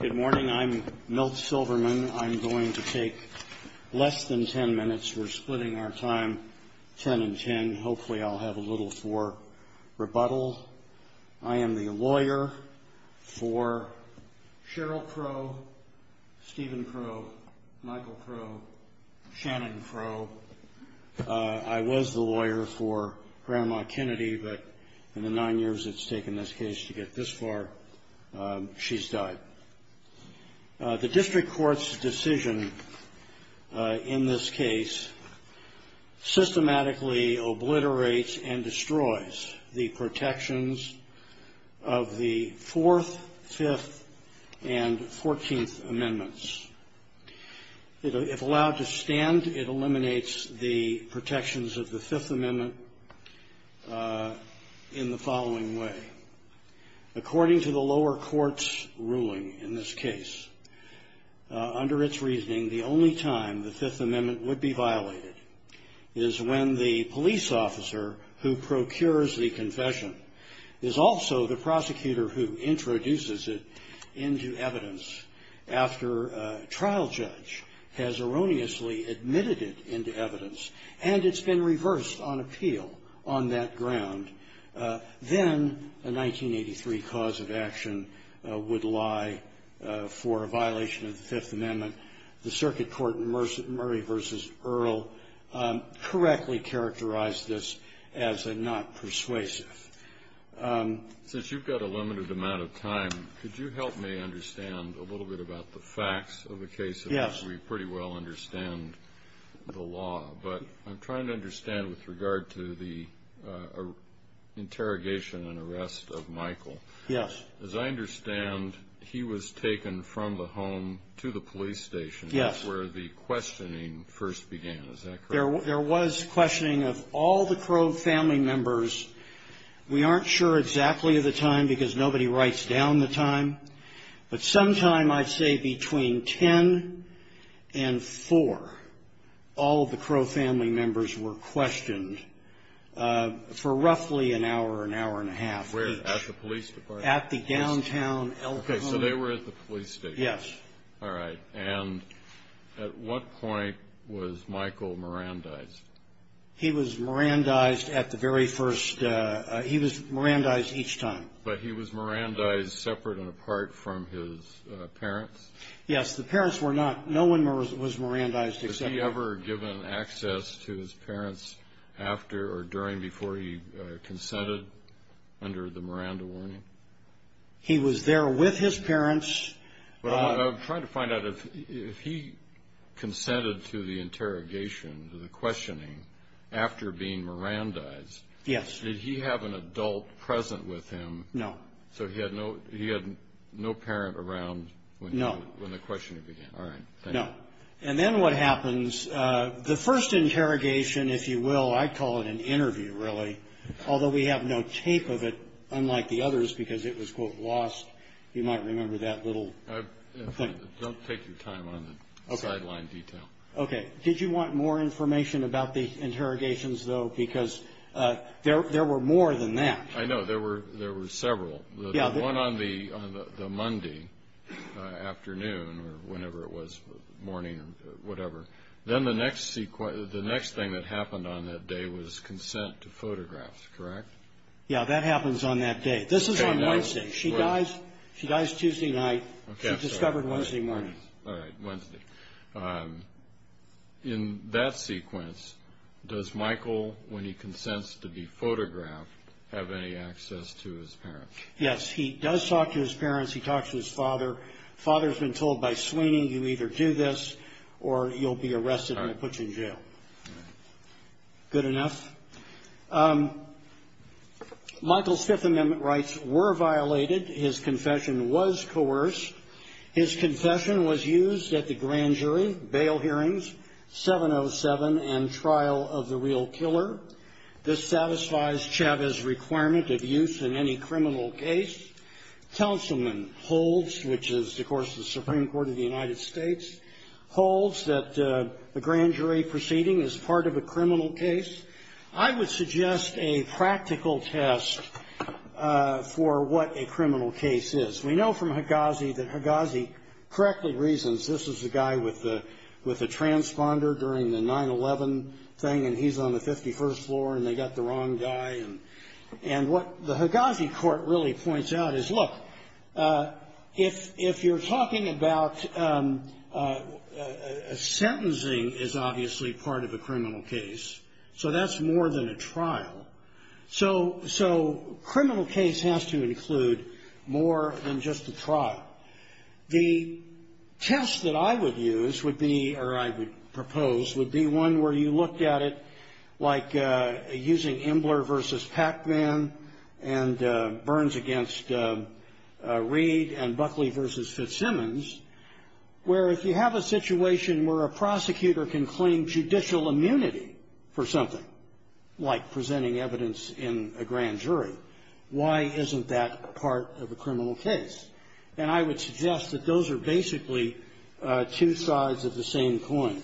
Good morning. I'm Milt Silverman. I'm going to take less than ten minutes. We're splitting our time ten and ten. Hopefully I'll have a little for rebuttal. I am the lawyer for Cheryl Crowe, Stephen Crowe, Michael Crowe, Shannon Crowe. I was the lawyer for Grandma Kennedy, but in the nine years it's taken this case to get this far, she's died. The district court's decision in this case systematically obliterates and destroys the protections of the Fourth, Fifth, and Fourteenth Amendments. If allowed to stand, it eliminates the protections of the Fifth Amendment in the following way. According to the lower court's ruling in this case, under its reasoning, the only time the Fifth Amendment would be violated is when the police officer who procures the confession is also the prosecutor who introduces it into evidence after a trial judge has erroneously admitted it into evidence and it's been reversed on appeal on that ground. Then a 1983 cause of action would lie for a violation of the Fifth Amendment. The circuit court in Murray v. Earle correctly characterized this as a not persuasive. Since you've got a limited amount of time, could you help me understand a little bit about the facts of the case? Yes. We pretty well understand the law, but I'm trying to understand with regard to the interrogation and arrest of Michael. Yes. As I understand, he was taken from the home to the police station. Yes. That's where the questioning first began. Is that correct? There was questioning of all the Crowe family members. We aren't sure exactly of the time because nobody writes down the time, but sometime I'd say between 10 and 4, all of the Crowe family members were questioned for roughly an hour, an hour and a half. Where, at the police department? At the downtown El Cajon. Okay, so they were at the police station. Yes. All right. And at what point was Michael Mirandized? He was Mirandized at the very first – he was Mirandized each time. But he was Mirandized separate and apart from his parents? Yes. The parents were not – no one was Mirandized except – Was he ever given access to his parents after or during before he consented under the Miranda warning? He was there with his parents. I'm trying to find out if he consented to the interrogation, to the questioning, after being Mirandized. Yes. Did he have an adult present with him? No. So he had no parent around when the questioning began? No. All right, thank you. No. And then what happens, the first interrogation, if you will, I'd call it an interview really, although we have no tape of it, unlike the others, because it was, quote, lost. You might remember that little thing. Don't take your time on the sideline detail. Okay. Did you want more information about the interrogations, though? Because there were more than that. I know. There were several. Yeah. The one on the Monday afternoon or whenever it was, morning or whatever, then the next thing that happened on that day was consent to photographs, correct? Yeah, that happens on that day. This is on Wednesday. She dies Tuesday night. She's discovered Wednesday morning. All right, Wednesday. In that sequence, does Michael, when he consents to be photographed, have any access to his parents? Yes, he does talk to his parents. He talks to his father. His father's been told by Sweeney, you either do this or you'll be arrested and they'll put you in jail. Good enough. Michael's Fifth Amendment rights were violated. His confession was coerced. His confession was used at the grand jury, bail hearings, 707, and trial of the real killer. This satisfies Chavez's requirement of use in any criminal case. Councilman Holds, which is, of course, the Supreme Court of the United States, holds that the grand jury proceeding is part of a criminal case. I would suggest a practical test for what a criminal case is. We know from Higazi that Higazi correctly reasons this is a guy with a transponder during the 9-11 thing, and he's on the 51st floor, and they got the wrong guy. And what the Higazi court really points out is, look, if you're talking about sentencing is obviously part of a criminal case, so that's more than a trial. So criminal case has to include more than just a trial. The test that I would use would be, or I would propose, would be one where you looked at it like using Embler v. Pacman and Burns v. Reed and Buckley v. Fitzsimmons, where if you have a situation where a prosecutor can claim judicial immunity for something, like presenting evidence in a grand jury, why isn't that part of a criminal case? And I would suggest that those are basically two sides of the same coin.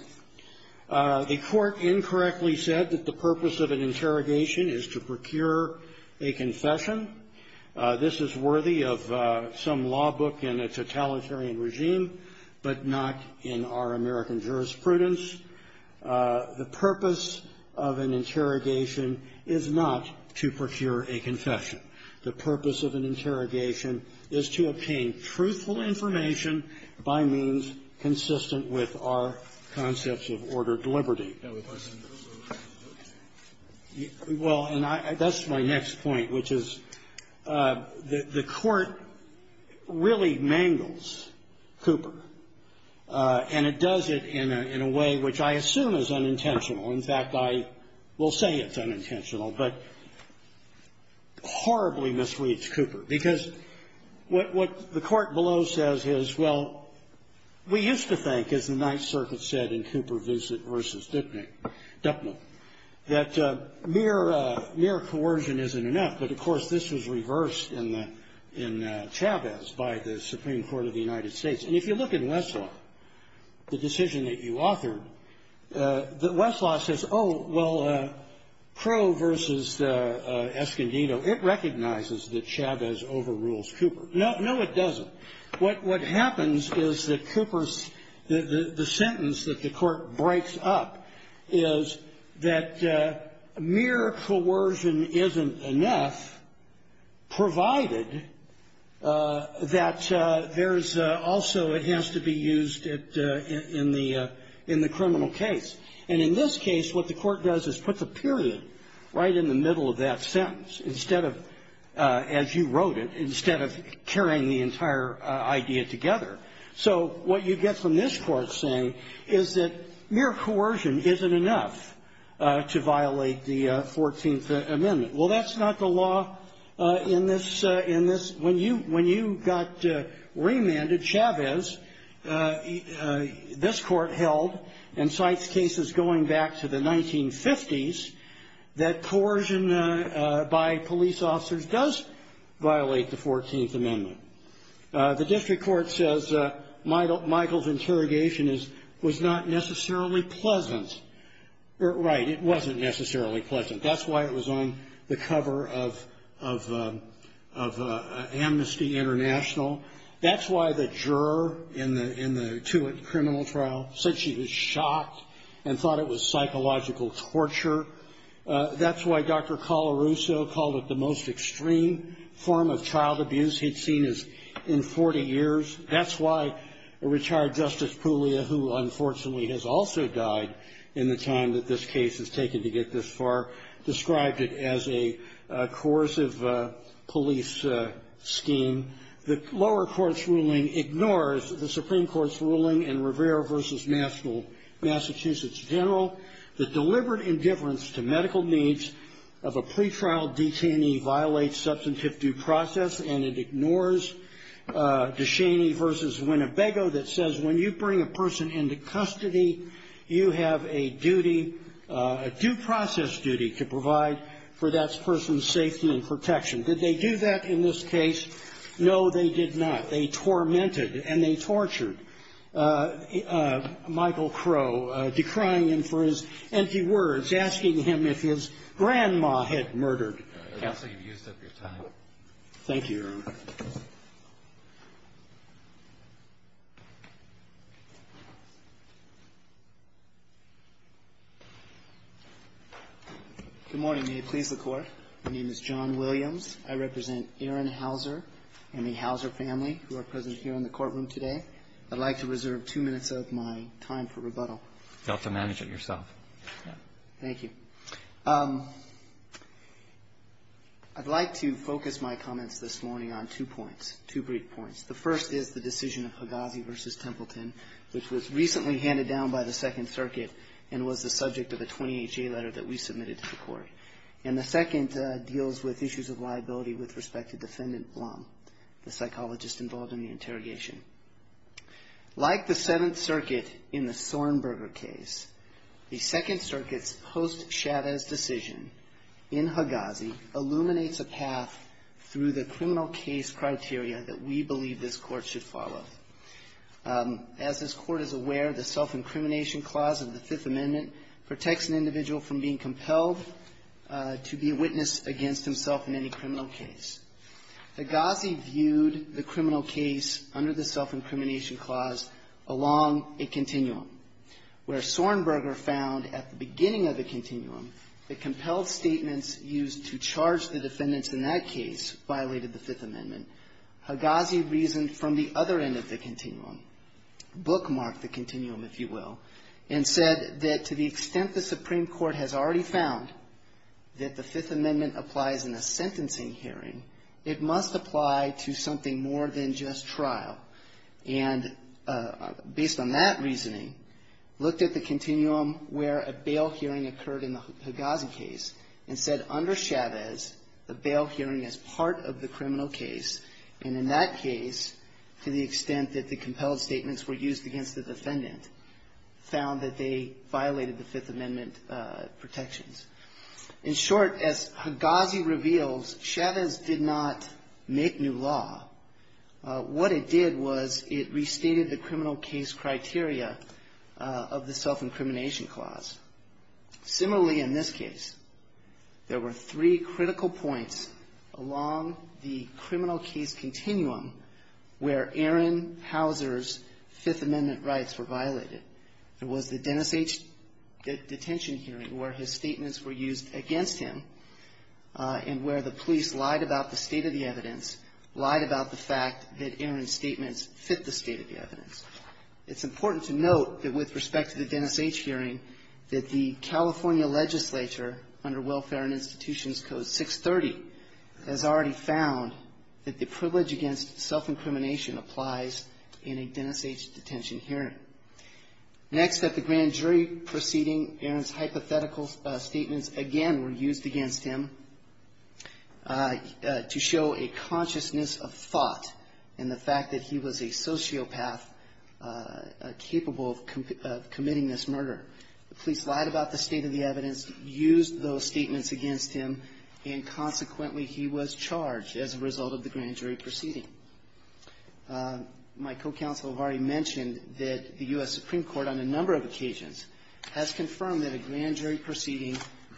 The court incorrectly said that the purpose of an interrogation is to procure a confession. This is worthy of some law book in a totalitarian regime, but not in our American jurisprudence. The purpose of an interrogation is not to procure a confession. The purpose of an interrogation is to obtain truthful information by means consistent with our concepts of ordered liberty. Well, and that's my next point, which is the court really mangles Cooper. And it does it in a way which I assume is unintentional. In fact, I will say it's unintentional, but horribly misreads Cooper. Because what the court below says is, well, we used to think, as the Ninth Circuit said in Cooper v. Dupman, that mere coercion isn't enough. But, of course, this was reversed in Chavez by the Supreme Court of the United States. And if you look in Westlaw, the decision that you authored, Westlaw says, oh, well, Crow v. Escondido, it recognizes that Chavez overrules Cooper. No, it doesn't. What happens is that Cooper's the sentence that the court breaks up is that mere coercion isn't enough, provided that there's also, it has to be used in the criminal case. And in this case, what the court does is put the period right in the middle of that sentence, instead of, as you wrote it, instead of carrying the entire idea together. So what you get from this court saying is that mere coercion isn't enough to violate the 14th Amendment. Well, that's not the law in this. When you got remanded, Chavez, this court held, and cites cases going back to the 1950s, that coercion by police officers does violate the 14th Amendment. The district court says Michael's interrogation was not necessarily pleasant. Right, it wasn't necessarily pleasant. That's why it was on the cover of Amnesty International. That's why the juror in the Tewitt criminal trial said she was shocked and thought it was psychological torture. That's why Dr. Colarusso called it the most extreme form of child abuse he'd seen in 40 years. That's why a retired Justice Puglia, who unfortunately has also died in the time that this case has taken to get this far, described it as a coercive police scheme. The lower court's ruling ignores the Supreme Court's ruling in Rivera v. Massachusetts General that deliberate indifference to medical needs of a pretrial detainee violates substantive due process and it ignores DeShaney v. Winnebago that says when you bring a person into custody, you have a duty, a due process duty, to provide for that person's safety and protection. Did they do that in this case? No, they did not. They tormented and they tortured Michael Crow, decrying him for his empty words, asking him if his grandma had murdered. Counsel, you've used up your time. Thank you, Your Honor. Good morning. May it please the Court. My name is John Williams. I represent Aaron Hauser and the Hauser family who are present here in the courtroom today. I'd like to reserve two minutes of my time for rebuttal. You'll have to manage it yourself. Thank you. I'd like to focus my comments this morning on two points, two brief points. The first is the decision of Hagazi v. Templeton, which was recently handed down by the Second Circuit and was the subject of a 28-J letter that we submitted to the Court. And the second deals with issues of liability with respect to Defendant Blum, the psychologist involved in the interrogation. Like the Seventh Circuit in the Sornberger case, the Second Circuit's post-Chavez decision in Hagazi illuminates a path through the criminal case criteria that we believe this Court should follow. As this Court is aware, the self-incrimination clause of the Fifth Amendment protects an individual from being compelled to be a witness against himself in any criminal case. Hagazi viewed the criminal case under the self-incrimination clause along a continuum, where Sornberger found at the beginning of the continuum that compelled statements used to charge the defendants in that case violated the Fifth Amendment. Hagazi reasoned from the other end of the continuum, bookmarked the continuum, if you will, and said that to the extent the Supreme Court has already found that the Fifth Amendment applies in a sentencing hearing, it must apply to something more than just trial. And based on that reasoning, looked at the continuum where a bail hearing occurred in the Hagazi case and said under Chavez, the bail hearing is part of the criminal case. And in that case, to the extent that the compelled statements were used against the defendant, found that they violated the Fifth Amendment protections. In short, as Hagazi reveals, Chavez did not make new law. What it did was it restated the criminal case criteria of the self-incrimination clause. Similarly, in this case, there were three critical points along the criminal case continuum where Aaron Hauser's Fifth Amendment rights were violated. There was the Dennis H. detention hearing where his statements were used against him and where the police lied about the state of the evidence, lied about the fact that Aaron's statements fit the state of the evidence. It's important to note that with respect to the Dennis H. hearing, that the California legislature under Welfare and Institutions Code 630 has already found that the privilege against self-incrimination applies in a Dennis H. detention hearing. Next, at the grand jury proceeding, Aaron's hypothetical statements again were used against him to show a consciousness of thought in the fact that he was a sociopath capable of committing this murder. The police lied about the state of the evidence, used those statements against him, and consequently, he was charged as a result of the grand jury proceeding. My co-counsel have already mentioned that the U.S. Supreme Court on a number of occasions has confirmed that a grand jury proceeding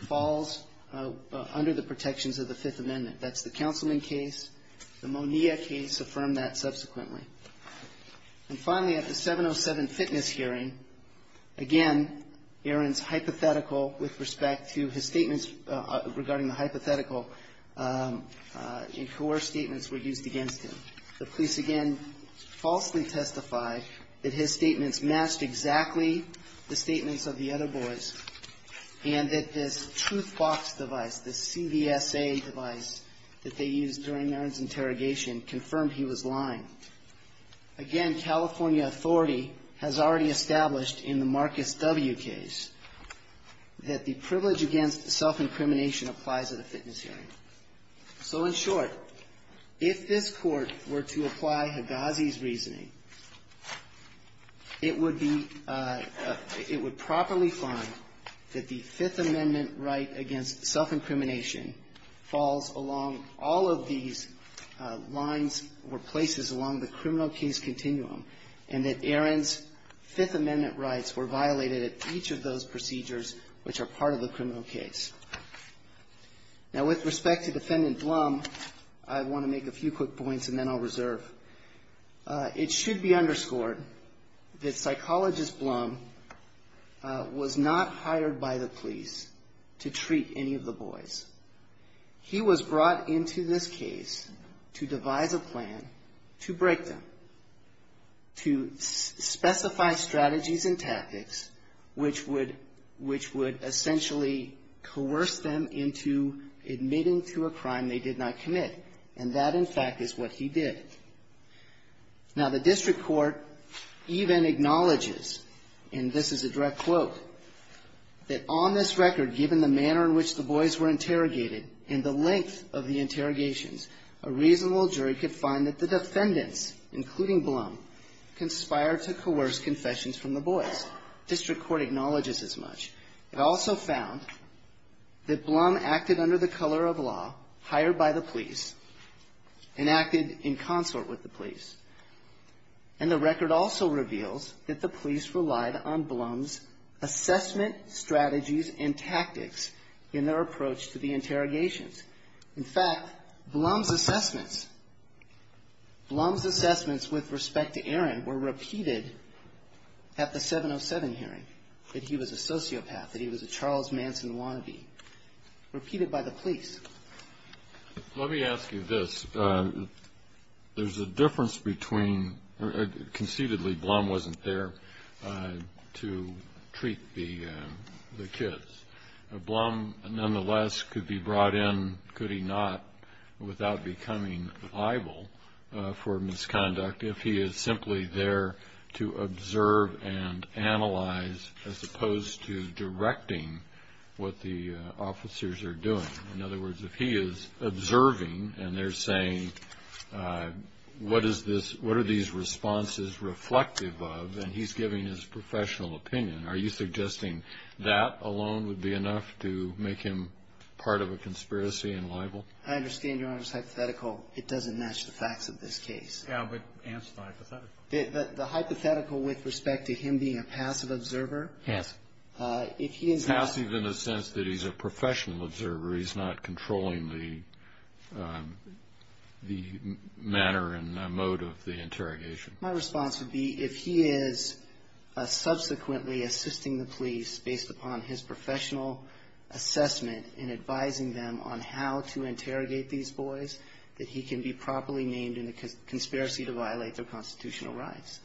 falls under the protections of the Fifth Amendment. That's the Councilman case. The Monea case affirmed that subsequently. And finally, at the 707 fitness hearing, again, Aaron's hypothetical with respect to his statements regarding the hypothetical and coerced statements were used against him. The police again falsely testified that his statements matched exactly the statements of the other boys and that this truth box device, this CVSA device that they used during Aaron's interrogation confirmed he was lying. Again, California authority has already established in the Marcus W. case that the privilege against self-incrimination applies at a fitness hearing. So in short, if this Court were to apply Higazi's reasoning, it would be – it would properly find that the Fifth Amendment right against self-incrimination falls along all of these lines or places along the criminal case continuum, and that Aaron's Fifth Amendment rights were violated at each of those procedures which are part of the criminal case. Now, with respect to Defendant Blum, I want to make a few quick points and then I'll reserve. It should be underscored that Psychologist Blum was not hired by the police to treat any of the boys. He was brought into this case to devise a plan to break them, to specify strategies and tactics which would essentially coerce them into admitting to a crime they did not commit, and that, in fact, is what he did. Now, the district court even acknowledges, and this is a direct quote, that on this record, given the manner in which the boys were interrogated and the length of the interrogations, a reasonable jury could find that the defendants, including Blum, conspired to coerce confessions from the boys. District court acknowledges as much. It also found that Blum acted under the color of law, hired by the police, and acted in consort with the police. And the record also reveals that the police relied on Blum's assessment strategies and tactics in their approach to the interrogations. In fact, Blum's assessments, Blum's assessments with respect to Aaron were repeated at the 707 hearing, that he was a sociopath, that he was a Charles Manson wannabe, repeated by the police. Let me ask you this. There's a difference between, conceitedly Blum wasn't there to treat the kids. Blum, nonetheless, could be brought in, could he not, without becoming liable for misconduct, if he is simply there to observe and analyze as opposed to directing what the officers are doing. In other words, if he is observing and they're saying, what is this, what are these responses reflective of, and he's giving his professional opinion, are you suggesting that alone would be enough to make him part of a conspiracy and liable? I understand, Your Honor, it's hypothetical. It doesn't match the facts of this case. Yeah, but answer the hypothetical. The hypothetical with respect to him being a passive observer. Passive. Passive in the sense that he's a professional observer, he's not controlling the manner and mode of the interrogation. My response would be, if he is subsequently assisting the police based upon his professional assessment in advising them on how to interrogate these boys, that he can be properly named in a conspiracy to violate their constitutional rights.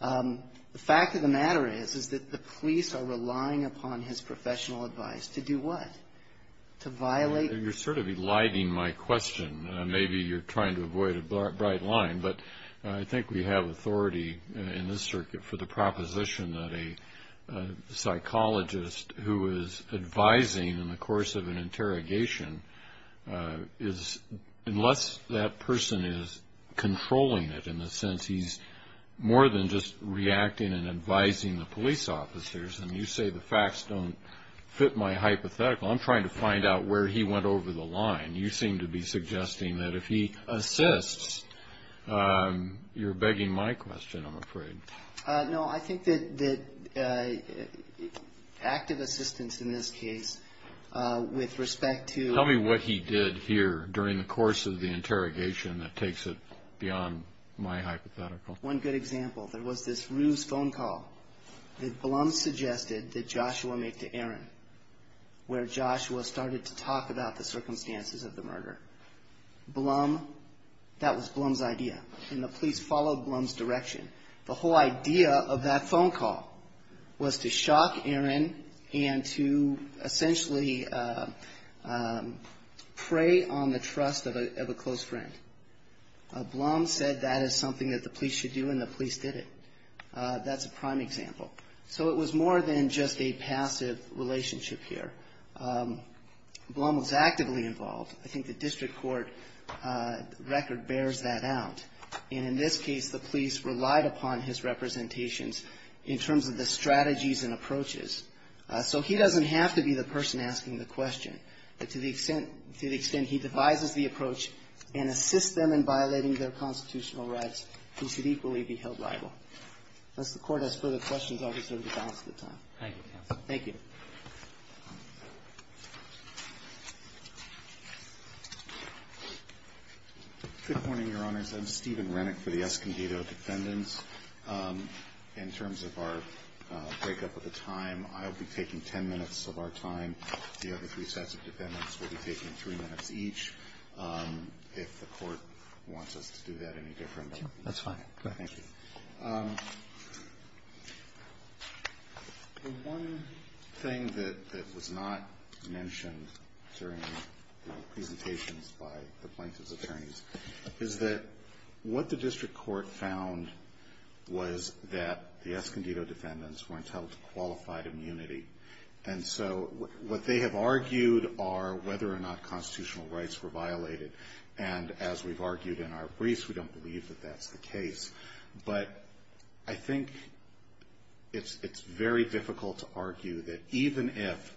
The fact of the matter is, is that the police are relying upon his professional advice to do what? To violate? You're sort of eliding my question. Maybe you're trying to avoid a bright line, but I think we have authority in this circuit for the proposition that a psychologist who is advising in the course of an interrogation, unless that person is controlling it in the sense he's more than just reacting and advising the police officers, and you say the facts don't fit my hypothetical. I'm trying to find out where he went over the line. You seem to be suggesting that if he assists, you're begging my question, I'm afraid. No, I think that active assistance in this case with respect to Tell me what he did here during the course of the interrogation that takes it beyond my hypothetical. One good example, there was this ruse phone call that Blum suggested that Joshua make to Aaron, where Joshua started to talk about the circumstances of the murder. Blum, that was Blum's idea, and the police followed Blum's direction. The whole idea of that phone call was to shock Aaron and to essentially prey on the trust of a close friend. Blum said that is something that the police should do, and the police did it. That's a prime example. So it was more than just a passive relationship here. Blum was actively involved. I think the district court record bears that out. And in this case, the police relied upon his representations in terms of the strategies and approaches. So he doesn't have to be the person asking the question. But to the extent he devises the approach and assists them in violating their constitutional rights, he should equally be held liable. Unless the Court has further questions, I'll reserve the balance of the time. Thank you, counsel. Thank you. Good morning, Your Honors. I'm Stephen Renick for the Escondido defendants. In terms of our break up of the time, I'll be taking ten minutes of our time. The other three sets of defendants will be taking three minutes each. If the Court wants us to do that any different. That's fine. Go ahead. Thank you. One thing that was not mentioned during the presentations by the plaintiff's attorneys is that what the district court found was that the Escondido defendants weren't held to qualified immunity. And so what they have argued are whether or not constitutional rights were violated. And as we've argued in our briefs, we don't believe that that's the case. But I think it's very difficult to argue that even if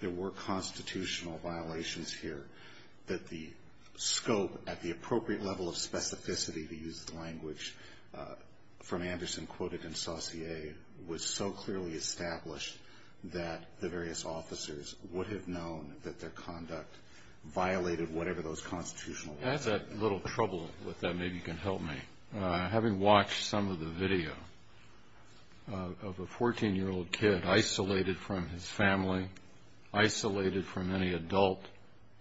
there were constitutional violations here, that the scope at the appropriate level of specificity, to use the language from Anderson quoted in Saussure, was so clearly established that the various officers would have known that their conduct violated whatever those constitutional rights were. I had a little trouble with that, maybe you can help me. Having watched some of the video of a 14-year-old kid isolated from his family, isolated from any adult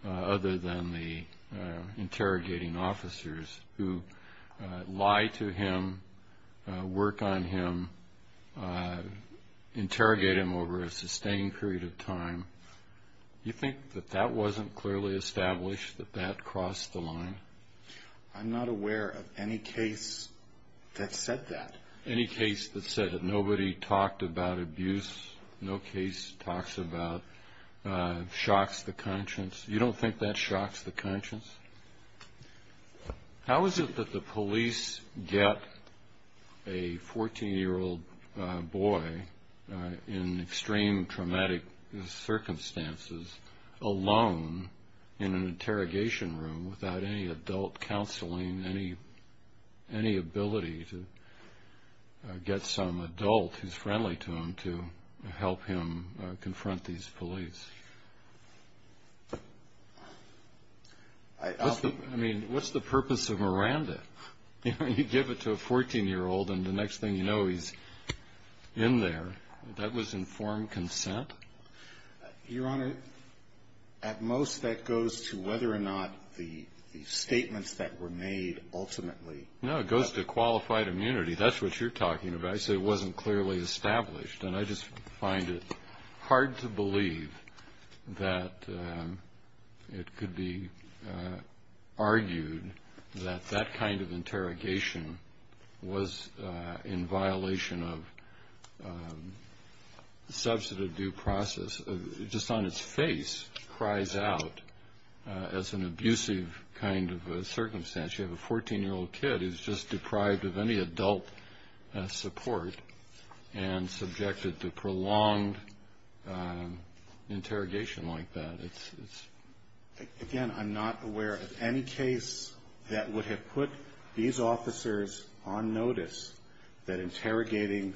other than the interrogating officers who lie to him, work on him, interrogate him over a sustained period of time, you think that that wasn't clearly established, that that crossed the line? I'm not aware of any case that said that. Any case that said it? Nobody talked about abuse? No case talks about shocks the conscience? You don't think that shocks the conscience? How is it that the police get a 14-year-old boy in extreme traumatic circumstances alone in an interrogation room without any adult counseling, any ability to get some adult who's friendly to him to help him confront these police? I mean, what's the purpose of Miranda? You give it to a 14-year-old, and the next thing you know, he's in there. That was informed consent? Your Honor, at most, that goes to whether or not the statements that were made ultimately. No, it goes to qualified immunity. That's what you're talking about. I say it wasn't clearly established, and I just find it hard to believe that it could be argued that that kind of interrogation was in violation of substantive due process. It just on its face cries out as an abusive kind of circumstance. You have a 14-year-old kid who's just deprived of any adult support and subjected to prolonged interrogation like that. Again, I'm not aware of any case that would have put these officers on notice that interrogating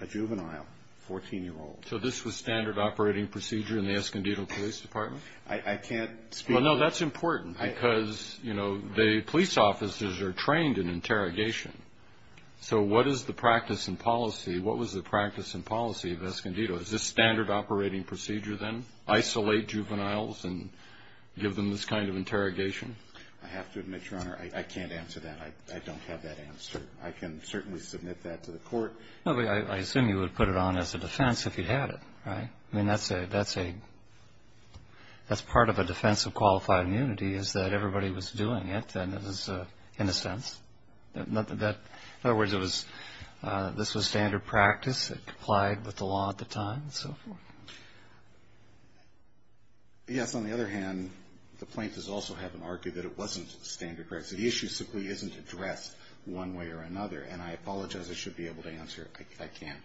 a juvenile 14-year-old. So this was standard operating procedure in the Escondido Police Department? I can't speak to that. Well, no, that's important because, you know, the police officers are trained in interrogation. So what is the practice and policy? What was the practice and policy of Escondido? Is this standard operating procedure then, isolate juveniles and give them this kind of interrogation? I have to admit, Your Honor, I can't answer that. I don't have that answer. I can certainly submit that to the court. I assume you would put it on as a defense if you had it, right? No. I mean, that's part of a defense of qualified immunity is that everybody was doing it and it was, in a sense. In other words, this was standard practice. It complied with the law at the time and so forth. Yes, on the other hand, the plaintiffs also haven't argued that it wasn't standard practice. The issue simply isn't addressed one way or another. And I apologize, I should be able to answer it. I can't.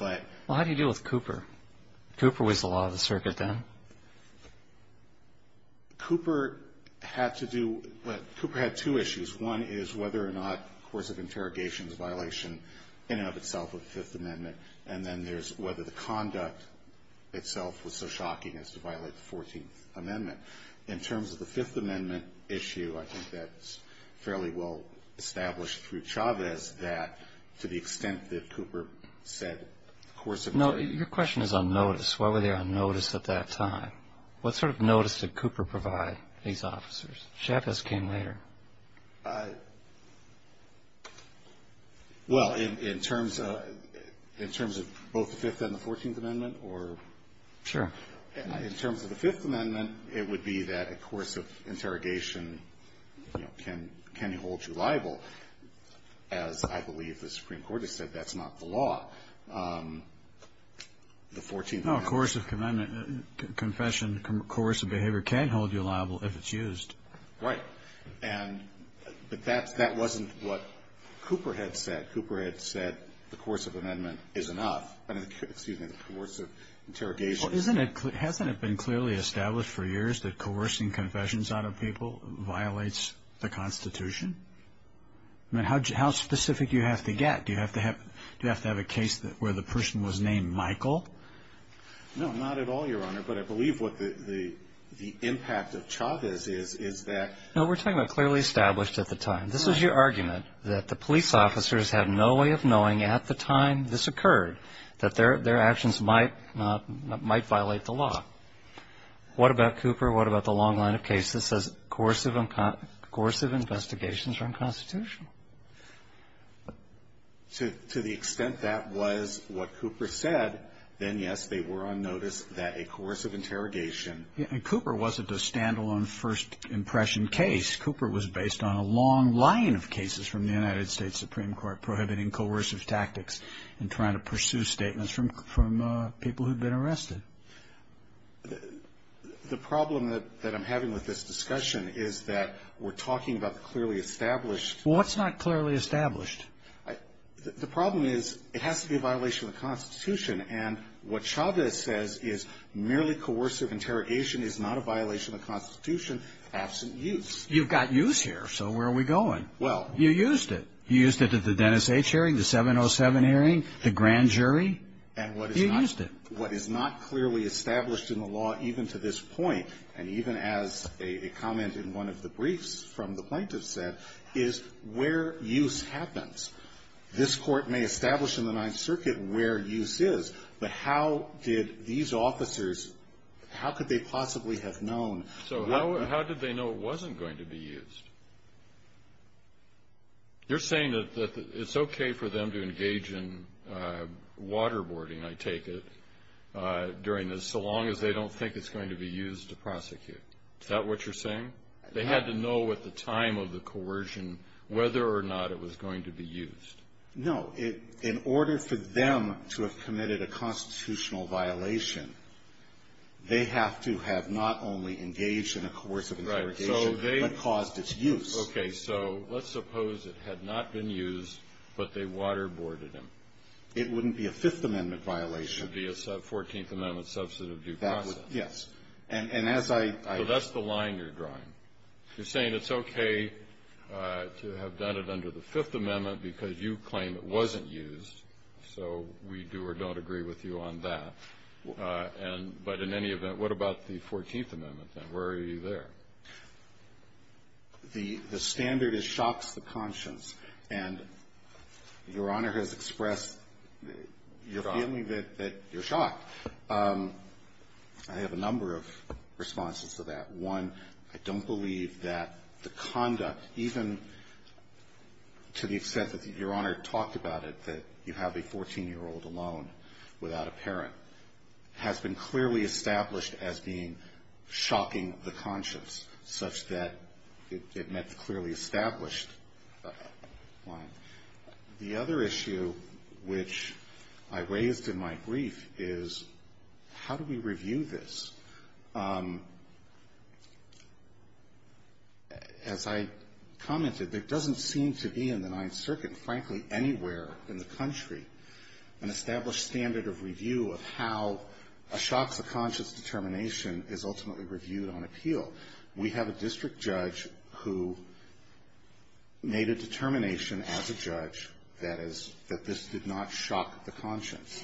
Well, how do you deal with Cooper? Cooper was the law of the circuit then. Cooper had to do, well, Cooper had two issues. One is whether or not the course of interrogation is a violation in and of itself of the Fifth Amendment. And then there's whether the conduct itself was so shocking as to violate the Fourteenth Amendment. In terms of the Fifth Amendment issue, I think that's fairly well established through Chavez that to the extent that Cooper said the course of interrogation. No, your question is on notice. Why were they on notice at that time? What sort of notice did Cooper provide these officers? Chavez came later. Well, in terms of both the Fifth and the Fourteenth Amendment or? Sure. In terms of the Fifth Amendment, it would be that a course of interrogation can hold you liable. As I believe the Supreme Court has said, that's not the law. The Fourteenth Amendment. No, a course of confession, a course of behavior can hold you liable if it's used. Right. But that wasn't what Cooper had said. Cooper had said the course of amendment is enough. Excuse me, the course of interrogation. Well, hasn't it been clearly established for years that coercing confessions out of people violates the Constitution? I mean, how specific do you have to get? Do you have to have a case where the person was named Michael? No, not at all, Your Honor. But I believe what the impact of Chavez is that. No, we're talking about clearly established at the time. This is your argument that the police officers had no way of knowing at the time this occurred, that their actions might violate the law. What about Cooper? What about the long line of cases that says coercive investigations are unconstitutional? To the extent that was what Cooper said, then, yes, they were on notice that a course of interrogation. And Cooper wasn't a standalone first impression case. Cooper was based on a long line of cases from the United States Supreme Court prohibiting coercive tactics and trying to pursue statements from people who'd been arrested. The problem that I'm having with this discussion is that we're talking about clearly established. Well, what's not clearly established? The problem is it has to be a violation of the Constitution, and what Chavez says is merely coercive interrogation is not a violation of the Constitution, absent use. You've got use here, so where are we going? Well. You used it. You used it at the Dennis H. hearing, the 707 hearing, the grand jury. You used it. And what is not clearly established in the law, even to this point, and even as a comment in one of the briefs from the plaintiff said, is where use happens. This Court may establish in the Ninth Circuit where use is, but how did these officers, how could they possibly have known? So how did they know it wasn't going to be used? You're saying that it's okay for them to engage in waterboarding, I take it, during this, so long as they don't think it's going to be used to prosecute. Is that what you're saying? They had to know at the time of the coercion whether or not it was going to be used. No. In order for them to have committed a constitutional violation, they have to have not only engaged in a coercive interrogation, but caused its use. Okay. So let's suppose it had not been used, but they waterboarded him. It wouldn't be a Fifth Amendment violation. It would be a Fourteenth Amendment substantive due process. Yes. And as I ---- So that's the line you're drawing. You're saying it's okay to have done it under the Fifth Amendment because you claim it wasn't used, so we do or don't agree with you on that. And but in any event, what about the Fourteenth Amendment then? Where are you there? The standard is shocks the conscience. And Your Honor has expressed your feeling that you're shocked. I have a number of responses to that. One, I don't believe that the conduct, even to the extent that Your Honor talked about it, that you have a 14-year-old alone without a parent, has been clearly established as being shocking the conscience such that it met the clearly established line. The other issue which I raised in my brief is how do we review this? As I commented, there doesn't seem to be in the Ninth Circuit, frankly, anywhere in the country, an established standard of review of how a shocks the conscience determination is ultimately reviewed on appeal. We have a district judge who made a determination as a judge that is, that this did not shock the conscience.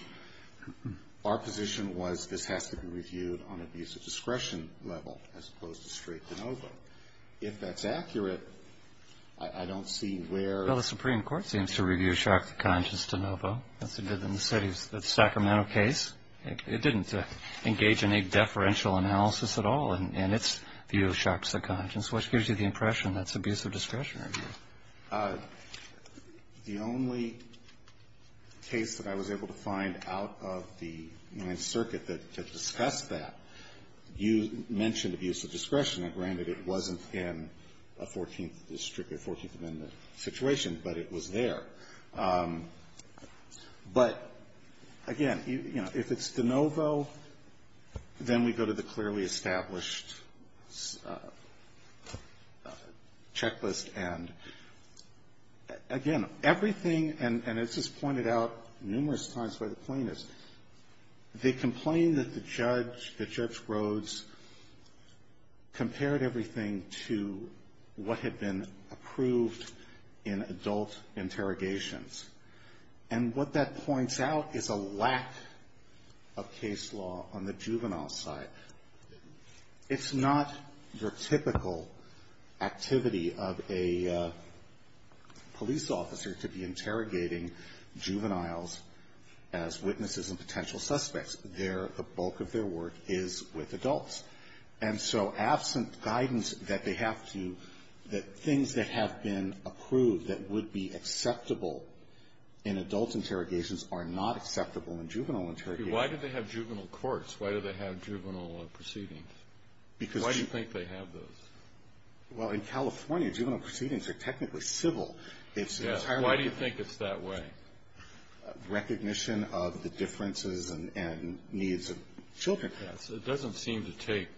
Our position was this has to be reviewed on abuse of discretion level as opposed to straight de novo. If that's accurate, I don't see where the Supreme Court seems to review shocks the conscience de novo, as it did in the Sacramento case. It didn't engage any deferential analysis at all in its view of shocks the conscience, which gives you the impression that's abuse of discretionary. The only case that I was able to find out of the Ninth Circuit that discussed that, you mentioned abuse of discretion. Granted, it wasn't in a 14th district or 14th amendment situation, but it was there. But again, you know, if it's de novo, then we go to the clearly established checklist, and again, everything, and this is pointed out numerous times by the plaintiffs, they complained that the judge, that Judge Rhodes, compared everything to what had been approved in adult interrogations. And what that points out is a lack of case law on the juvenile side. It's not your typical activity of a police officer to be interrogating juveniles as witnesses and potential suspects. Their, the bulk of their work is with adults. And so absent guidance that they have to, that things that have been approved that would be acceptable in adult interrogations are not acceptable in juvenile interrogations. Why do they have juvenile courts? Why do they have juvenile proceedings? Why do you think they have those? Well, in California, juvenile proceedings are technically civil. It's entirely different. Yes. Why do you think it's that way? Recognition of the differences and needs of children. Yes. It doesn't seem to take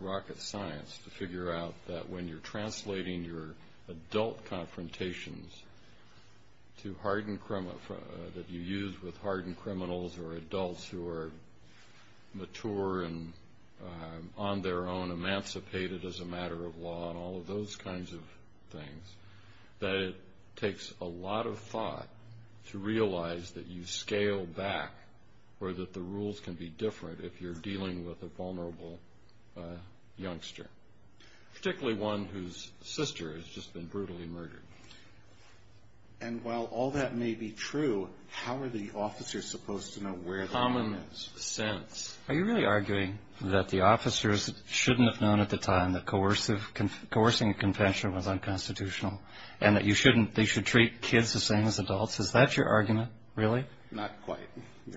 rocket science to figure out that when you're translating your adult confrontations to hardened, that you use with hardened criminals or adults who are mature and on their own emancipated as a matter of law and all of those kinds of things, that it takes a lot of thought to realize that you scale back or that the rules can be different if you're dealing with a vulnerable youngster. Particularly one whose sister has just been brutally murdered. And while all that may be true, how are the officers supposed to know where the harm is? Common sense. Are you really arguing that the officers shouldn't have known at the time that coercing a convention was unconstitutional and that you shouldn't, they should treat kids the same as adults? Is that your argument? Really? Not quite.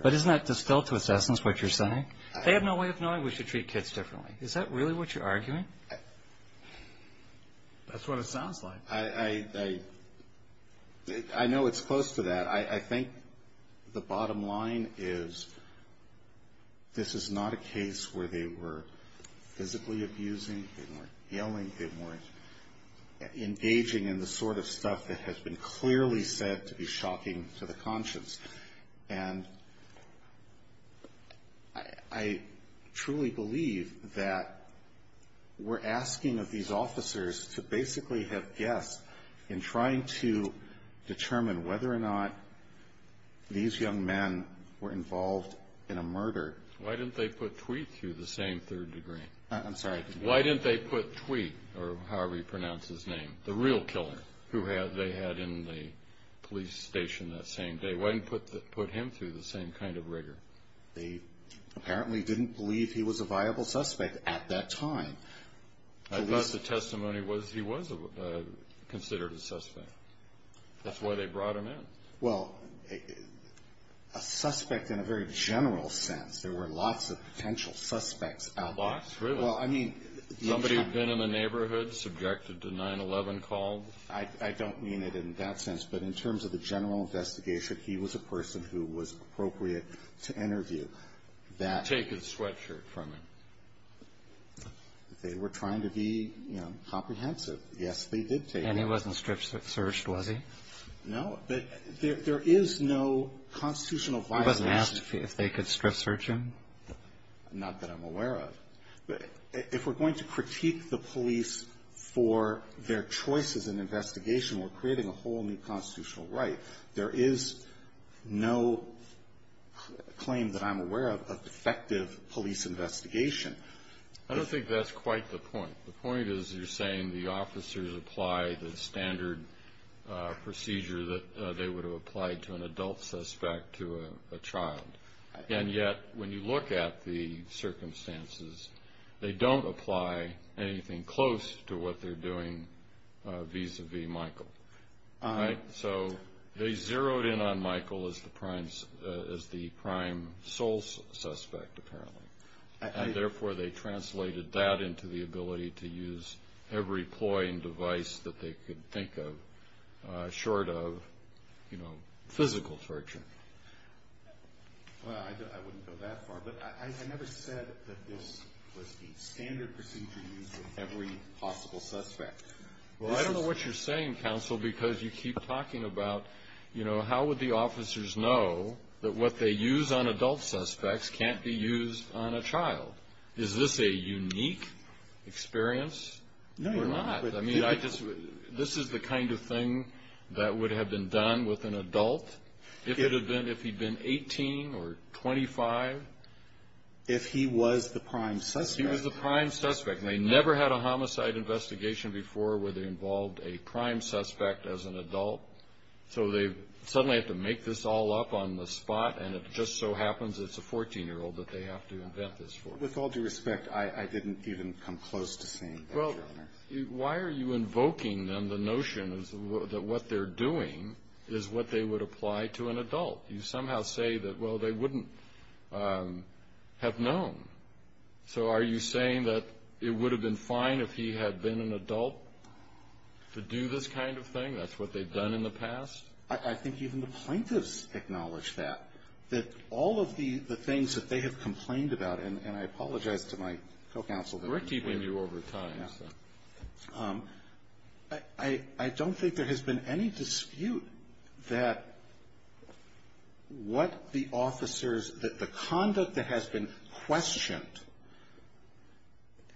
But isn't that distilled to its essence what you're saying? They have no way of knowing we should treat kids differently. Is that really what you're arguing? That's what it sounds like. I know it's close to that. I think the bottom line is this is not a case where they were physically abusing, they weren't yelling, they weren't engaging in the sort of stuff that has been clearly said to be shocking to the conscience. And I truly believe that we're asking of these officers to basically have guessed in trying to determine whether or not these young men were involved in a murder. Why didn't they put Tweet through the same third degree? I'm sorry? Why didn't they put Tweet, or however you pronounce his name, the real killer who they had in the police station that same day, why didn't they put him through the same kind of rigor? They apparently didn't believe he was a viable suspect at that time. I guess the testimony was he was considered a suspect. That's why they brought him in. Well, a suspect in a very general sense. There were lots of potential suspects out there. Lots, really. Well, I mean. Somebody had been in the neighborhood, subjected to 9-11 calls. I don't mean it in that sense, but in terms of the general investigation, he was a person who was appropriate to interview. Take his sweatshirt from him. They were trying to be, you know, comprehensive. Yes, they did take him. And he wasn't strip searched, was he? No. There is no constitutional violation. He wasn't asked if they could strip search him? Not that I'm aware of. If we're going to critique the police for their choices in investigation, we're creating a whole new constitutional right. There is no claim that I'm aware of of defective police investigation. I don't think that's quite the point. The point is you're saying the officers apply the standard procedure that they would have applied to an adult suspect, to a child. And yet, when you look at the circumstances, they don't apply anything close to what they're doing vis-a-vis Michael. All right? So they zeroed in on Michael as the prime sole suspect, apparently. And, therefore, they translated that into the ability to use every ploy that they could think of, short of, you know, physical torture. Well, I wouldn't go that far. But I never said that this was the standard procedure used with every possible suspect. Well, I don't know what you're saying, Counsel, because you keep talking about, you know, how would the officers know that what they use on adult suspects can't be used on a child? Is this a unique experience or not? I mean, this is the kind of thing that would have been done with an adult if he'd been 18 or 25. If he was the prime suspect. If he was the prime suspect. And they never had a homicide investigation before where they involved a prime suspect as an adult. So they suddenly have to make this all up on the spot, and it just so happens it's a 14-year-old that they have to invent this for. With all due respect, I didn't even come close to saying that. Well, why are you invoking, then, the notion that what they're doing is what they would apply to an adult? You somehow say that, well, they wouldn't have known. So are you saying that it would have been fine if he had been an adult to do this kind of thing? That's what they've done in the past? I think even the plaintiffs acknowledge that. That all of the things that they have complained about, and I apologize to my co-counsel. We're keeping you over time, so. I don't think there has been any dispute that what the officers, that the conduct that has been questioned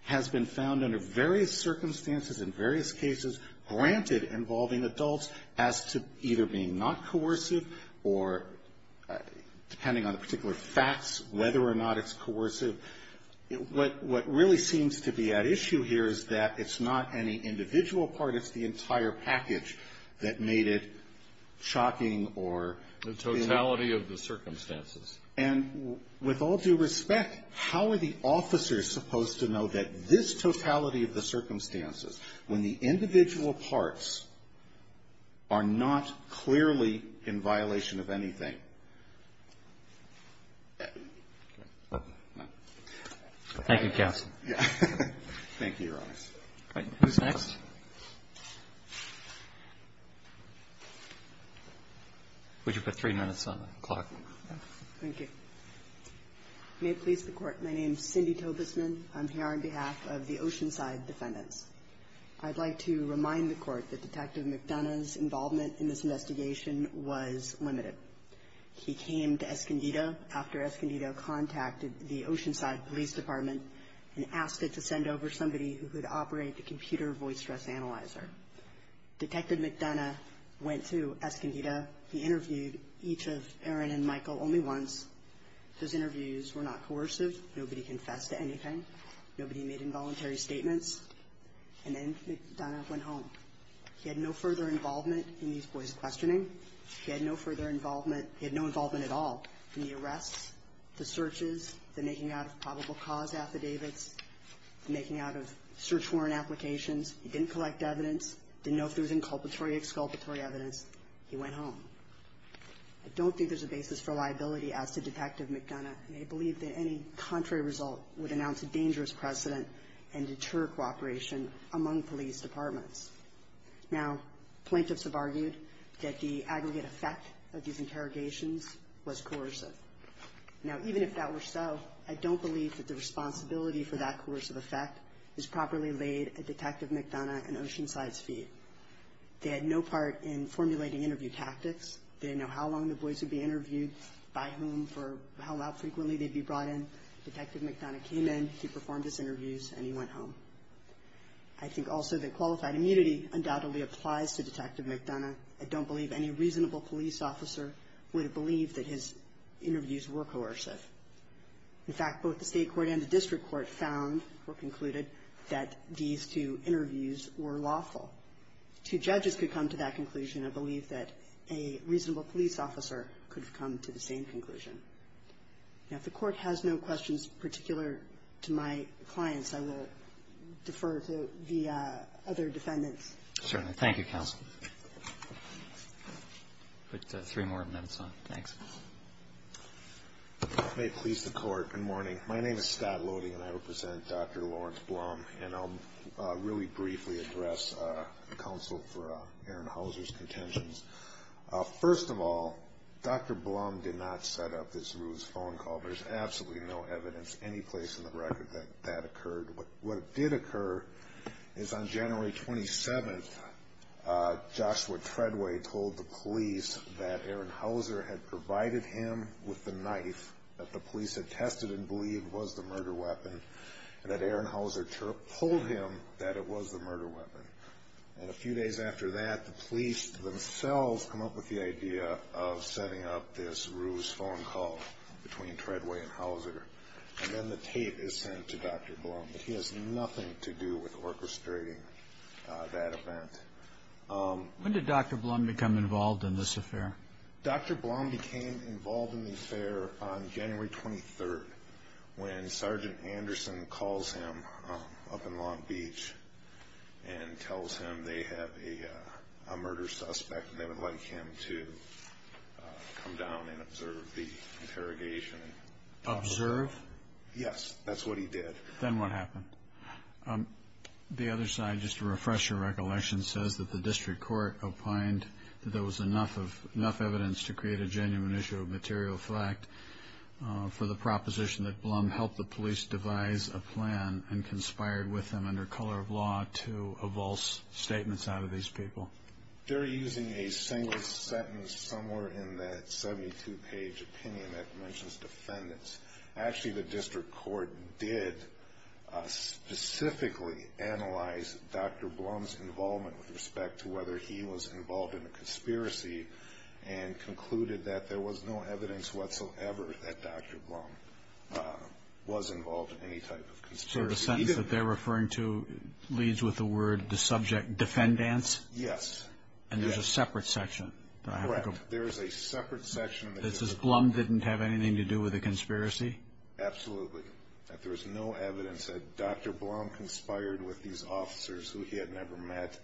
has been found under various circumstances in various cases, granted involving adults, as to either being not coercive or, depending on the particular facts, whether or not it's coercive. What really seems to be at issue here is that it's not any individual part, it's the entire package that made it shocking or The totality of the circumstances. And with all due respect, how are the officers supposed to know that this totality of the circumstances, when the individual parts are not clearly in violation of anything? Thank you, counsel. Thank you, Your Honor. Who's next? Would you put three minutes on the clock? Thank you. May it please the Court. My name is Cindy Tobesman. I'm here on behalf of the Oceanside Defendants. I'd like to remind the Court that Detective McDonough's involvement in this investigation was limited. He came to Escondido after Escondido contacted the Oceanside Police Department and asked it to send over somebody who could operate the computer voice stress analyzer. Detective McDonough went to Escondido. He interviewed each of Erin and Michael only once. Those interviews were not coercive. Nobody confessed to anything. Nobody made involuntary statements. And then McDonough went home. He had no further involvement in these boys' questioning. He had no further involvement at all in the arrests, the searches, the making out of probable cause affidavits, making out of search warrant applications. He didn't collect evidence, didn't know if there was inculpatory or exculpatory evidence. He went home. I don't think there's a basis for liability as to Detective McDonough, and I believe that any contrary result would announce a dangerous precedent and deter cooperation among police departments. Now, plaintiffs have argued that the aggregate effect of these interrogations was coercive. Now, even if that were so, I don't believe that the responsibility for that coercive effect is properly laid at Detective McDonough and Oceanside's feet. They had no part in formulating interview tactics. They didn't know how long the boys would be interviewed, by whom, for how frequently they'd be brought in. Detective McDonough came in, he performed his interviews, and he went home. I think also that qualified immunity undoubtedly applies to Detective McDonough. I don't believe any reasonable police officer would believe that his interviews were coercive. In fact, both the state court and the district court found or concluded that these two interviews were lawful. Two judges could come to that conclusion. I believe that a reasonable police officer could have come to the same conclusion. Now, if the court has no questions particular to my clients, I will defer to the other defendants. Roberts. Certainly. Thank you, Counsel. I'll put three more minutes on. Thanks. May it please the Court. Good morning. My name is Scott Lody, and I represent Dr. Lawrence Blum, and I'll really briefly address counsel for Aaron Hauser's contentions. First of all, Dr. Blum did not set up this ruse phone call. There's absolutely no evidence anyplace in the record that that occurred. What did occur is on January 27th, Joshua Treadway told the police that Aaron Hauser had provided him with the knife that the police had tested and believed was the murder weapon, and that Aaron Hauser told him that it was the murder weapon. And a few days after that, the police themselves come up with the idea of setting up this ruse phone call between Treadway and Hauser, and then the tape is sent to Dr. Blum. He has nothing to do with orchestrating that event. When did Dr. Blum become involved in this affair? Dr. Blum became involved in the affair on January 23rd, when Sergeant Anderson calls him up in Long Beach and tells him they have a murder suspect and they would like him to come down and observe the interrogation. Observe? Yes, that's what he did. Then what happened? The other side, just to refresh your recollection, says that the district court opined that there was enough evidence to create a genuine issue of material fact for the proposition that Blum helped the police devise a plan and conspired with them under color of law to avulse statements out of these people. They're using a single sentence somewhere in that 72-page opinion that mentions defendants. Actually, the district court did specifically analyze Dr. Blum's involvement with respect to whether he was involved in a conspiracy and concluded that there was no evidence whatsoever that Dr. Blum was involved in any type of conspiracy. So the sentence that they're referring to leads with the word defendants? Yes. And there's a separate section? Correct. There is a separate section. It says Blum didn't have anything to do with a conspiracy? Absolutely, that there was no evidence that Dr. Blum conspired with these officers who he had never met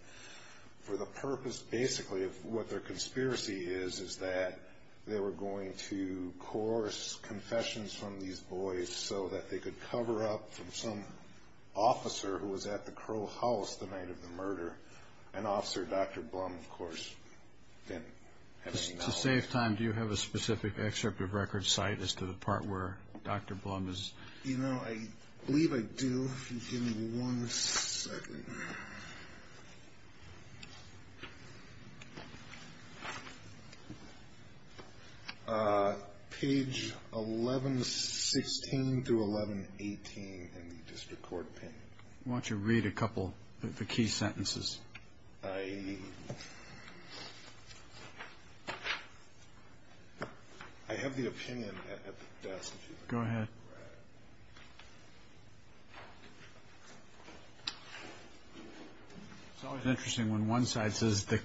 for the purpose, basically, of what their conspiracy is, is that they were going to coerce confessions from these boys so that they could cover up from some officer who was at the Crow House the night of the murder, an officer Dr. Blum, of course, didn't have any knowledge of. To save time, do you have a specific excerpt of record cite as to the part where Dr. Blum is? You know, I believe I do. If you give me one second. Page 1116 through 1118 in the district court opinion. Why don't you read a couple of the key sentences? I have the opinion at the desk. Go ahead. It's always interesting when one side says the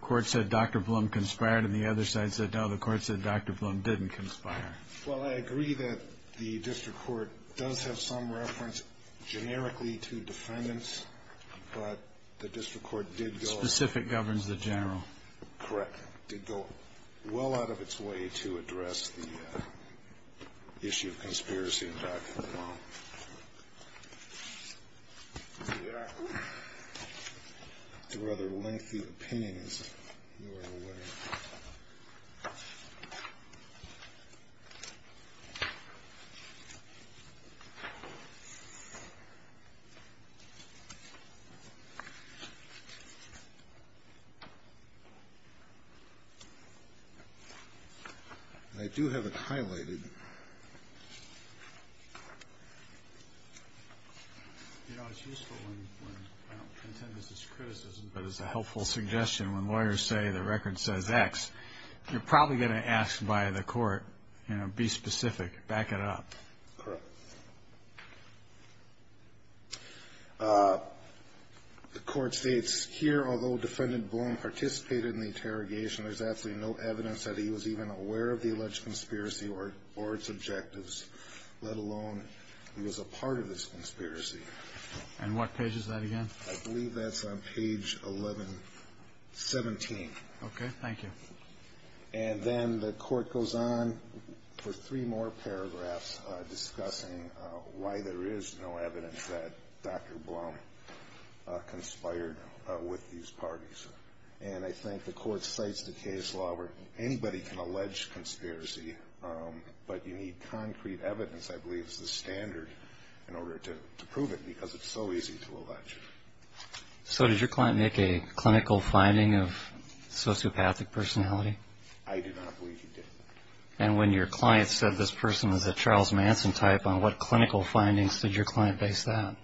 court said Dr. Blum conspired and the other side said, no, the court said Dr. Blum didn't conspire. Well, I agree that the district court does have some reference generically to defendants, but the district court did go. Specific governs the general. Correct. Did go well out of its way to address the issue of conspiracy in Dr. Blum. Well, there we are. It's a rather lengthy opinion, is your way. I do have it highlighted. You know, it's useful when I don't contend this is criticism, but it's a helpful suggestion when lawyers say the record says X, you're probably going to ask by the court, you know, be specific, back it up. Correct. The court states here, although defendant Blum participated in the interrogation, there's absolutely no evidence that he was even aware of the alleged conspiracy or its objectives, let alone he was a part of this conspiracy. And what page is that again? I believe that's on page 1117. Okay. Thank you. And then the court goes on for three more paragraphs discussing why there is no evidence that Dr. Blum conspired with these parties. And I think the court cites the case law where anybody can allege conspiracy, but you need concrete evidence, I believe, as the standard in order to prove it because it's so easy to allege. So did your client make a clinical finding of sociopathic personality? I do not believe he did. And when your client said this person was a Charles Manson type, on what clinical findings did your client base that?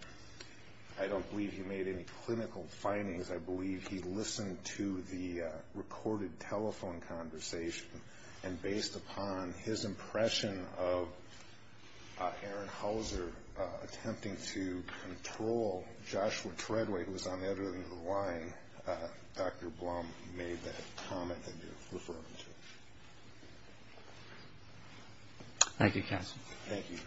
I don't believe he made any clinical findings. I believe he listened to the recorded telephone conversation, and based upon his impression of Aaron Hauser attempting to control Joshua Treadway, who was on the other end of the line, Dr. Blum made that comment that you're referring to. Thank you, counsel. Thank you.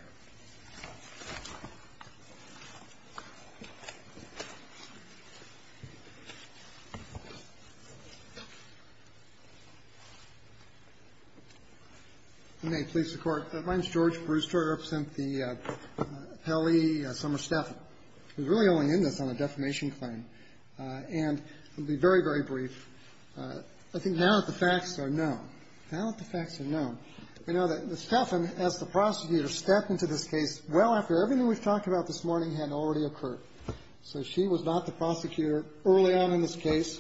If you may, please, Your Court. My name is George Brewster. I represent the Appellee Summer Steffen. I was really only in this on a defamation claim. And I'll be very, very brief. I think now that the facts are known, now that the facts are known, we know that Steffen, as the prosecutor, stepped into this case well after everything we've talked about this morning had already occurred. So she was not the prosecutor early on in this case.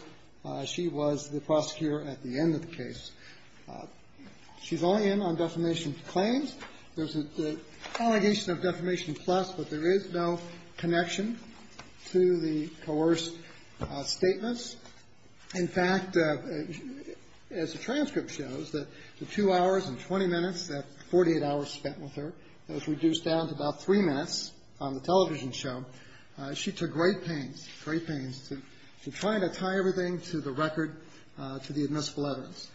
She was the prosecutor at the end of the case. She's only in on defamation claims. There's an allegation of defamation plus, but there is no connection to the coerced statements. In fact, as the transcript shows, the two hours and 20 minutes, that 48 hours spent with her, was reduced down to about three minutes on the television show. She took great pains, great pains, to try to tie everything to the record, to the admissible evidence.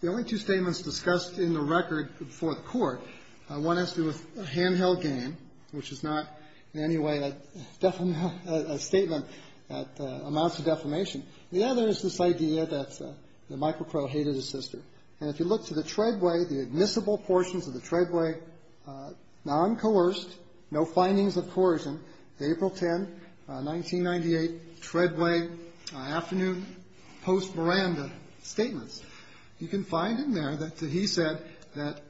The only two statements discussed in the record before the Court, one has to do with a handheld game, which is not in any way a statement that amounts to defamation. The other is this idea that Michael Crow hated his sister. And if you look to the Treadway, the admissible portions of the Treadway, non-coerced, no findings of coercion, April 10, 1998, Treadway, afternoon post Miranda statements, you can find in there that he said that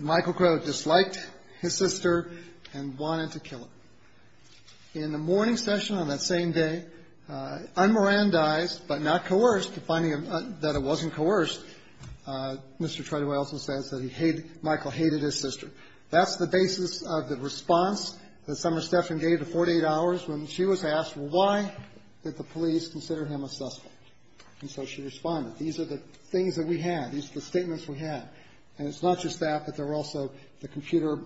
Michael Crow disliked his sister and wanted to kill her. In the morning session on that same day, un-Mirandaized but not coerced, finding that it wasn't coerced, Mr. Treadway also says that he hated, Michael hated his sister. That's the basis of the response that Summer Stephan gave to 48 hours when she was asked, well, why did the police consider him a suspect? And so she responded. These are the things that we have. These are the statements we have. And it's not just that, but there were also the computer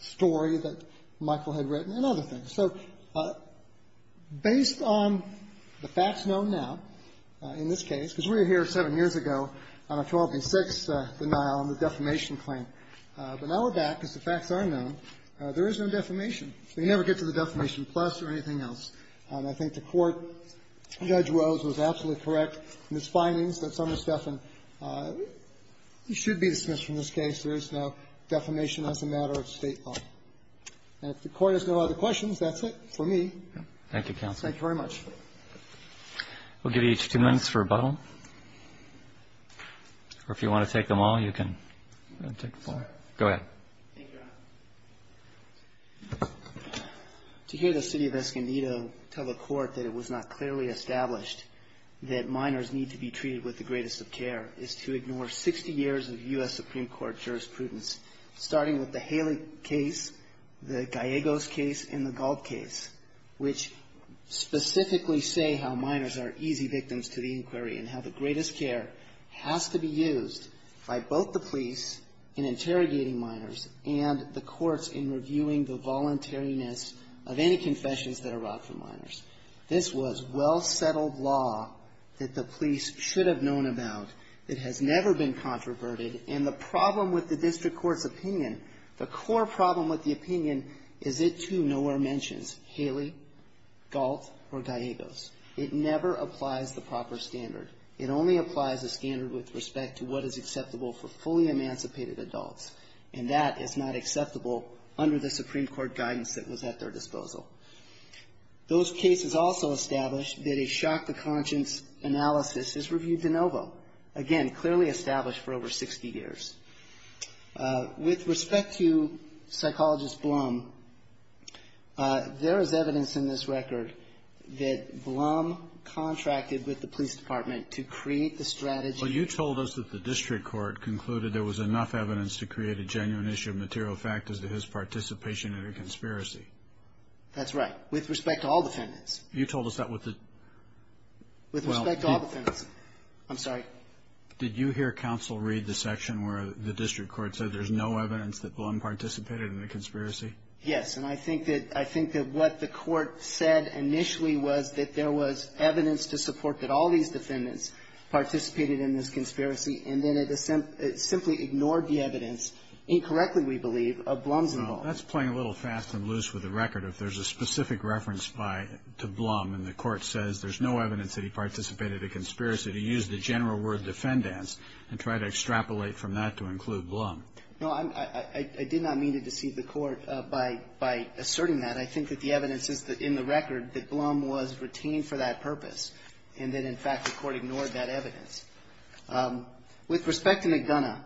story that Michael had written and other things. So based on the facts known now in this case, because we were here seven years ago on October 6th denial on the defamation claim. But now we're back because the facts are known. There is no defamation. We never get to the defamation plus or anything else. And I think the Court, Judge Rose was absolutely correct in his findings that Summer Stephan should be dismissed from this case. There is no defamation as a matter of State law. And if the Court has no other questions, that's it for me. Thank you, counsel. Thank you very much. We'll give each two minutes for rebuttal. Or if you want to take them all, you can take them all. Go ahead. Thank you, Your Honor. To hear the city of Escondido tell the Court that it was not clearly established that minors need to be treated with the greatest of care is to ignore 60 years of U.S. Supreme Court jurisprudence, starting with the Haley case, the Gallegos case, and the Galt case, which specifically say how minors are easy victims to the inquiry and how the greatest care has to be used by both the police in interrogating minors and the courts in reviewing the voluntariness of any confessions that are wrought for minors. This was well-settled law that the police should have known about. It has never been controverted. And the problem with the district court's opinion, the core problem with the opinion, is it too nowhere mentions Haley, Galt, or Gallegos. It never applies the proper standard. It only applies a standard with respect to what is acceptable for fully emancipated adults, and that is not acceptable under the Supreme Court guidance that was at their disposal. Those cases also established that a shock to conscience analysis is reviewed de novo, again, clearly established for over 60 years. With respect to psychologist Blum, there is evidence in this record that Blum contracted with the police department to create the strategy. Well, you told us that the district court concluded there was enough evidence to create a genuine issue of material fact as to his participation in a conspiracy. That's right, with respect to all defendants. You told us that with the? With respect to all defendants. I'm sorry. Did you hear counsel read the section where the district court said there's no evidence that Blum participated in a conspiracy? Yes, and I think that what the court said initially was that there was evidence to support that all these defendants participated in this conspiracy, and then it simply ignored the evidence, incorrectly we believe, of Blum's involvement. Well, that's playing a little fast and loose with the record. If there's a specific reference to Blum and the court says there's no evidence that he participated in a conspiracy, to use the general word defendants and try to extrapolate from that to include Blum. No, I did not mean to deceive the court by asserting that. I think that the evidence is in the record that Blum was retained for that purpose and that, in fact, the court ignored that evidence. With respect to McDonough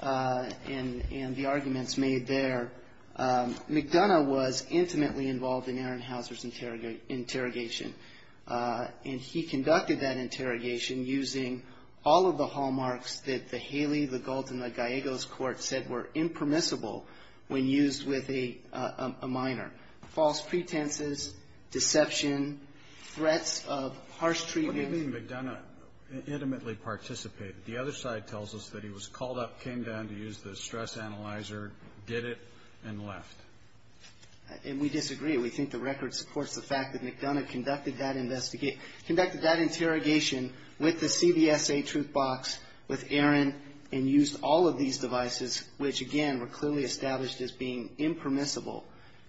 and the arguments made there, McDonough was intimately involved in Aaron Hauser's interrogation, and he conducted that interrogation using all of the hallmarks that the Haley, the Gault, and the Gallegos court said were impermissible when used with a minor, false pretenses, deception, threats of harsh treatment. What do you mean McDonough intimately participated? The other side tells us that he was called up, came down to use the stress analyzer, did it, and left. And we disagree. We think the record supports the fact that McDonough conducted that interrogation with the CBSA truth box, with Aaron, and used all of these devices, which, again, were clearly established as being impermissible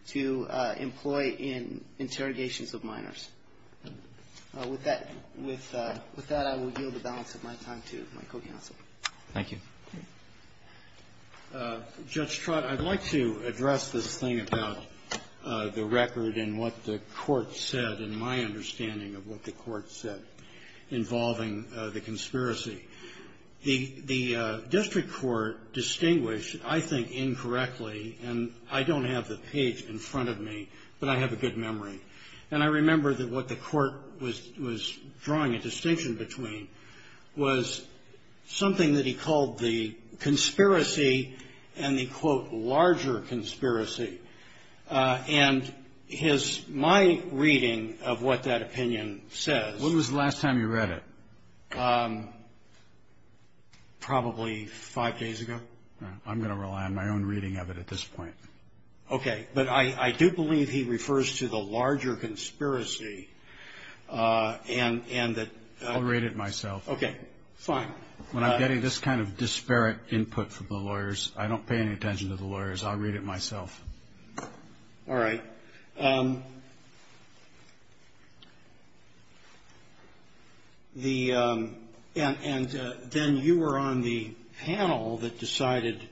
to employ in interrogations of minors. With that, I will yield the balance of my time to my co-counsel. Thank you. Judge Trott, I'd like to address this thing about the record and what the court said and my understanding of what the court said involving the conspiracy. The district court distinguished, I think incorrectly, and I don't have the page in front of me, but I have a good memory. And I remember that what the court was drawing a distinction between was something that he called the conspiracy and the, quote, larger conspiracy. And my reading of what that opinion says. When was the last time you read it? Probably five days ago. I'm going to rely on my own reading of it at this point. Okay. But I do believe he refers to the larger conspiracy and that. I'll read it myself. Okay. Fine. When I'm getting this kind of disparate input from the lawyers, I don't pay any attention to the lawyers. I'll read it myself. All right. And then you were on the panel that decided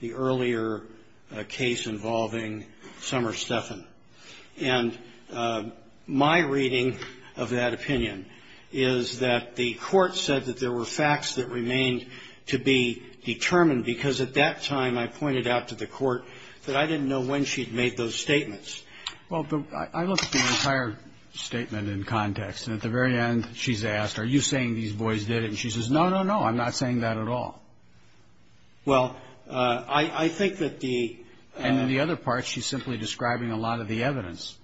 the earlier case involving Summer Steffen. And my reading of that opinion is that the court said that there were facts that remained to be determined because at that time I pointed out to the court that I didn't know when she'd made those statements. Well, I looked at the entire statement in context. And at the very end, she's asked, are you saying these boys did it? And she says, no, no, no. I'm not saying that at all. Well, I think that the ---- And then the other part, she's simply describing a lot of the evidence.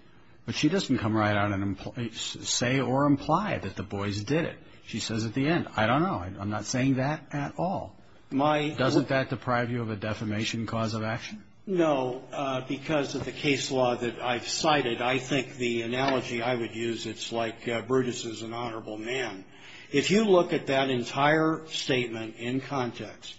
But she doesn't come right out and say or imply that the boys did it. She says at the end, I don't know. I'm not saying that at all. Doesn't that deprive you of a defamation cause of action? No. Because of the case law that I've cited, I think the analogy I would use, it's like Brutus is an honorable man. If you look at that entire statement in context,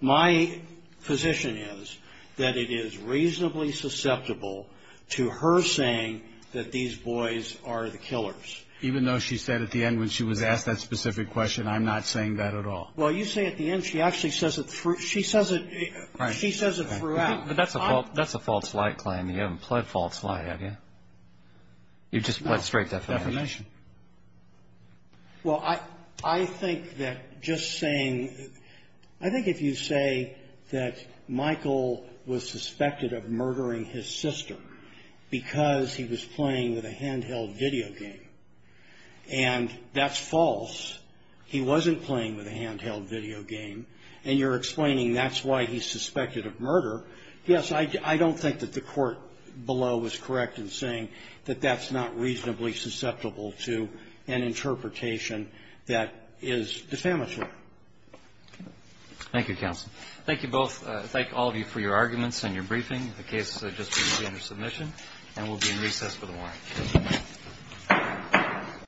my position is that it is reasonably susceptible to her saying that these boys are the killers. Even though she said at the end when she was asked that specific question, I'm not saying that at all. Well, you say at the end she actually says it through. She says it ---- Right. She says it throughout. But that's a false light claim. You haven't pled false light, have you? You've just pled straight defamation. No, defamation. Well, I think that just saying ---- I think if you say that Michael was suspected of murdering his sister because he was playing with a handheld video game, and that's false. He wasn't playing with a handheld video game. And you're explaining that's why he's suspected of murder. Yes, I don't think that the court below is correct in saying that that's not reasonably susceptible to an interpretation that is defamatory. Thank you, counsel. Thank you both. Thank all of you for your arguments and your briefing. The case has just been presented for submission. And we'll be in recess for the morning.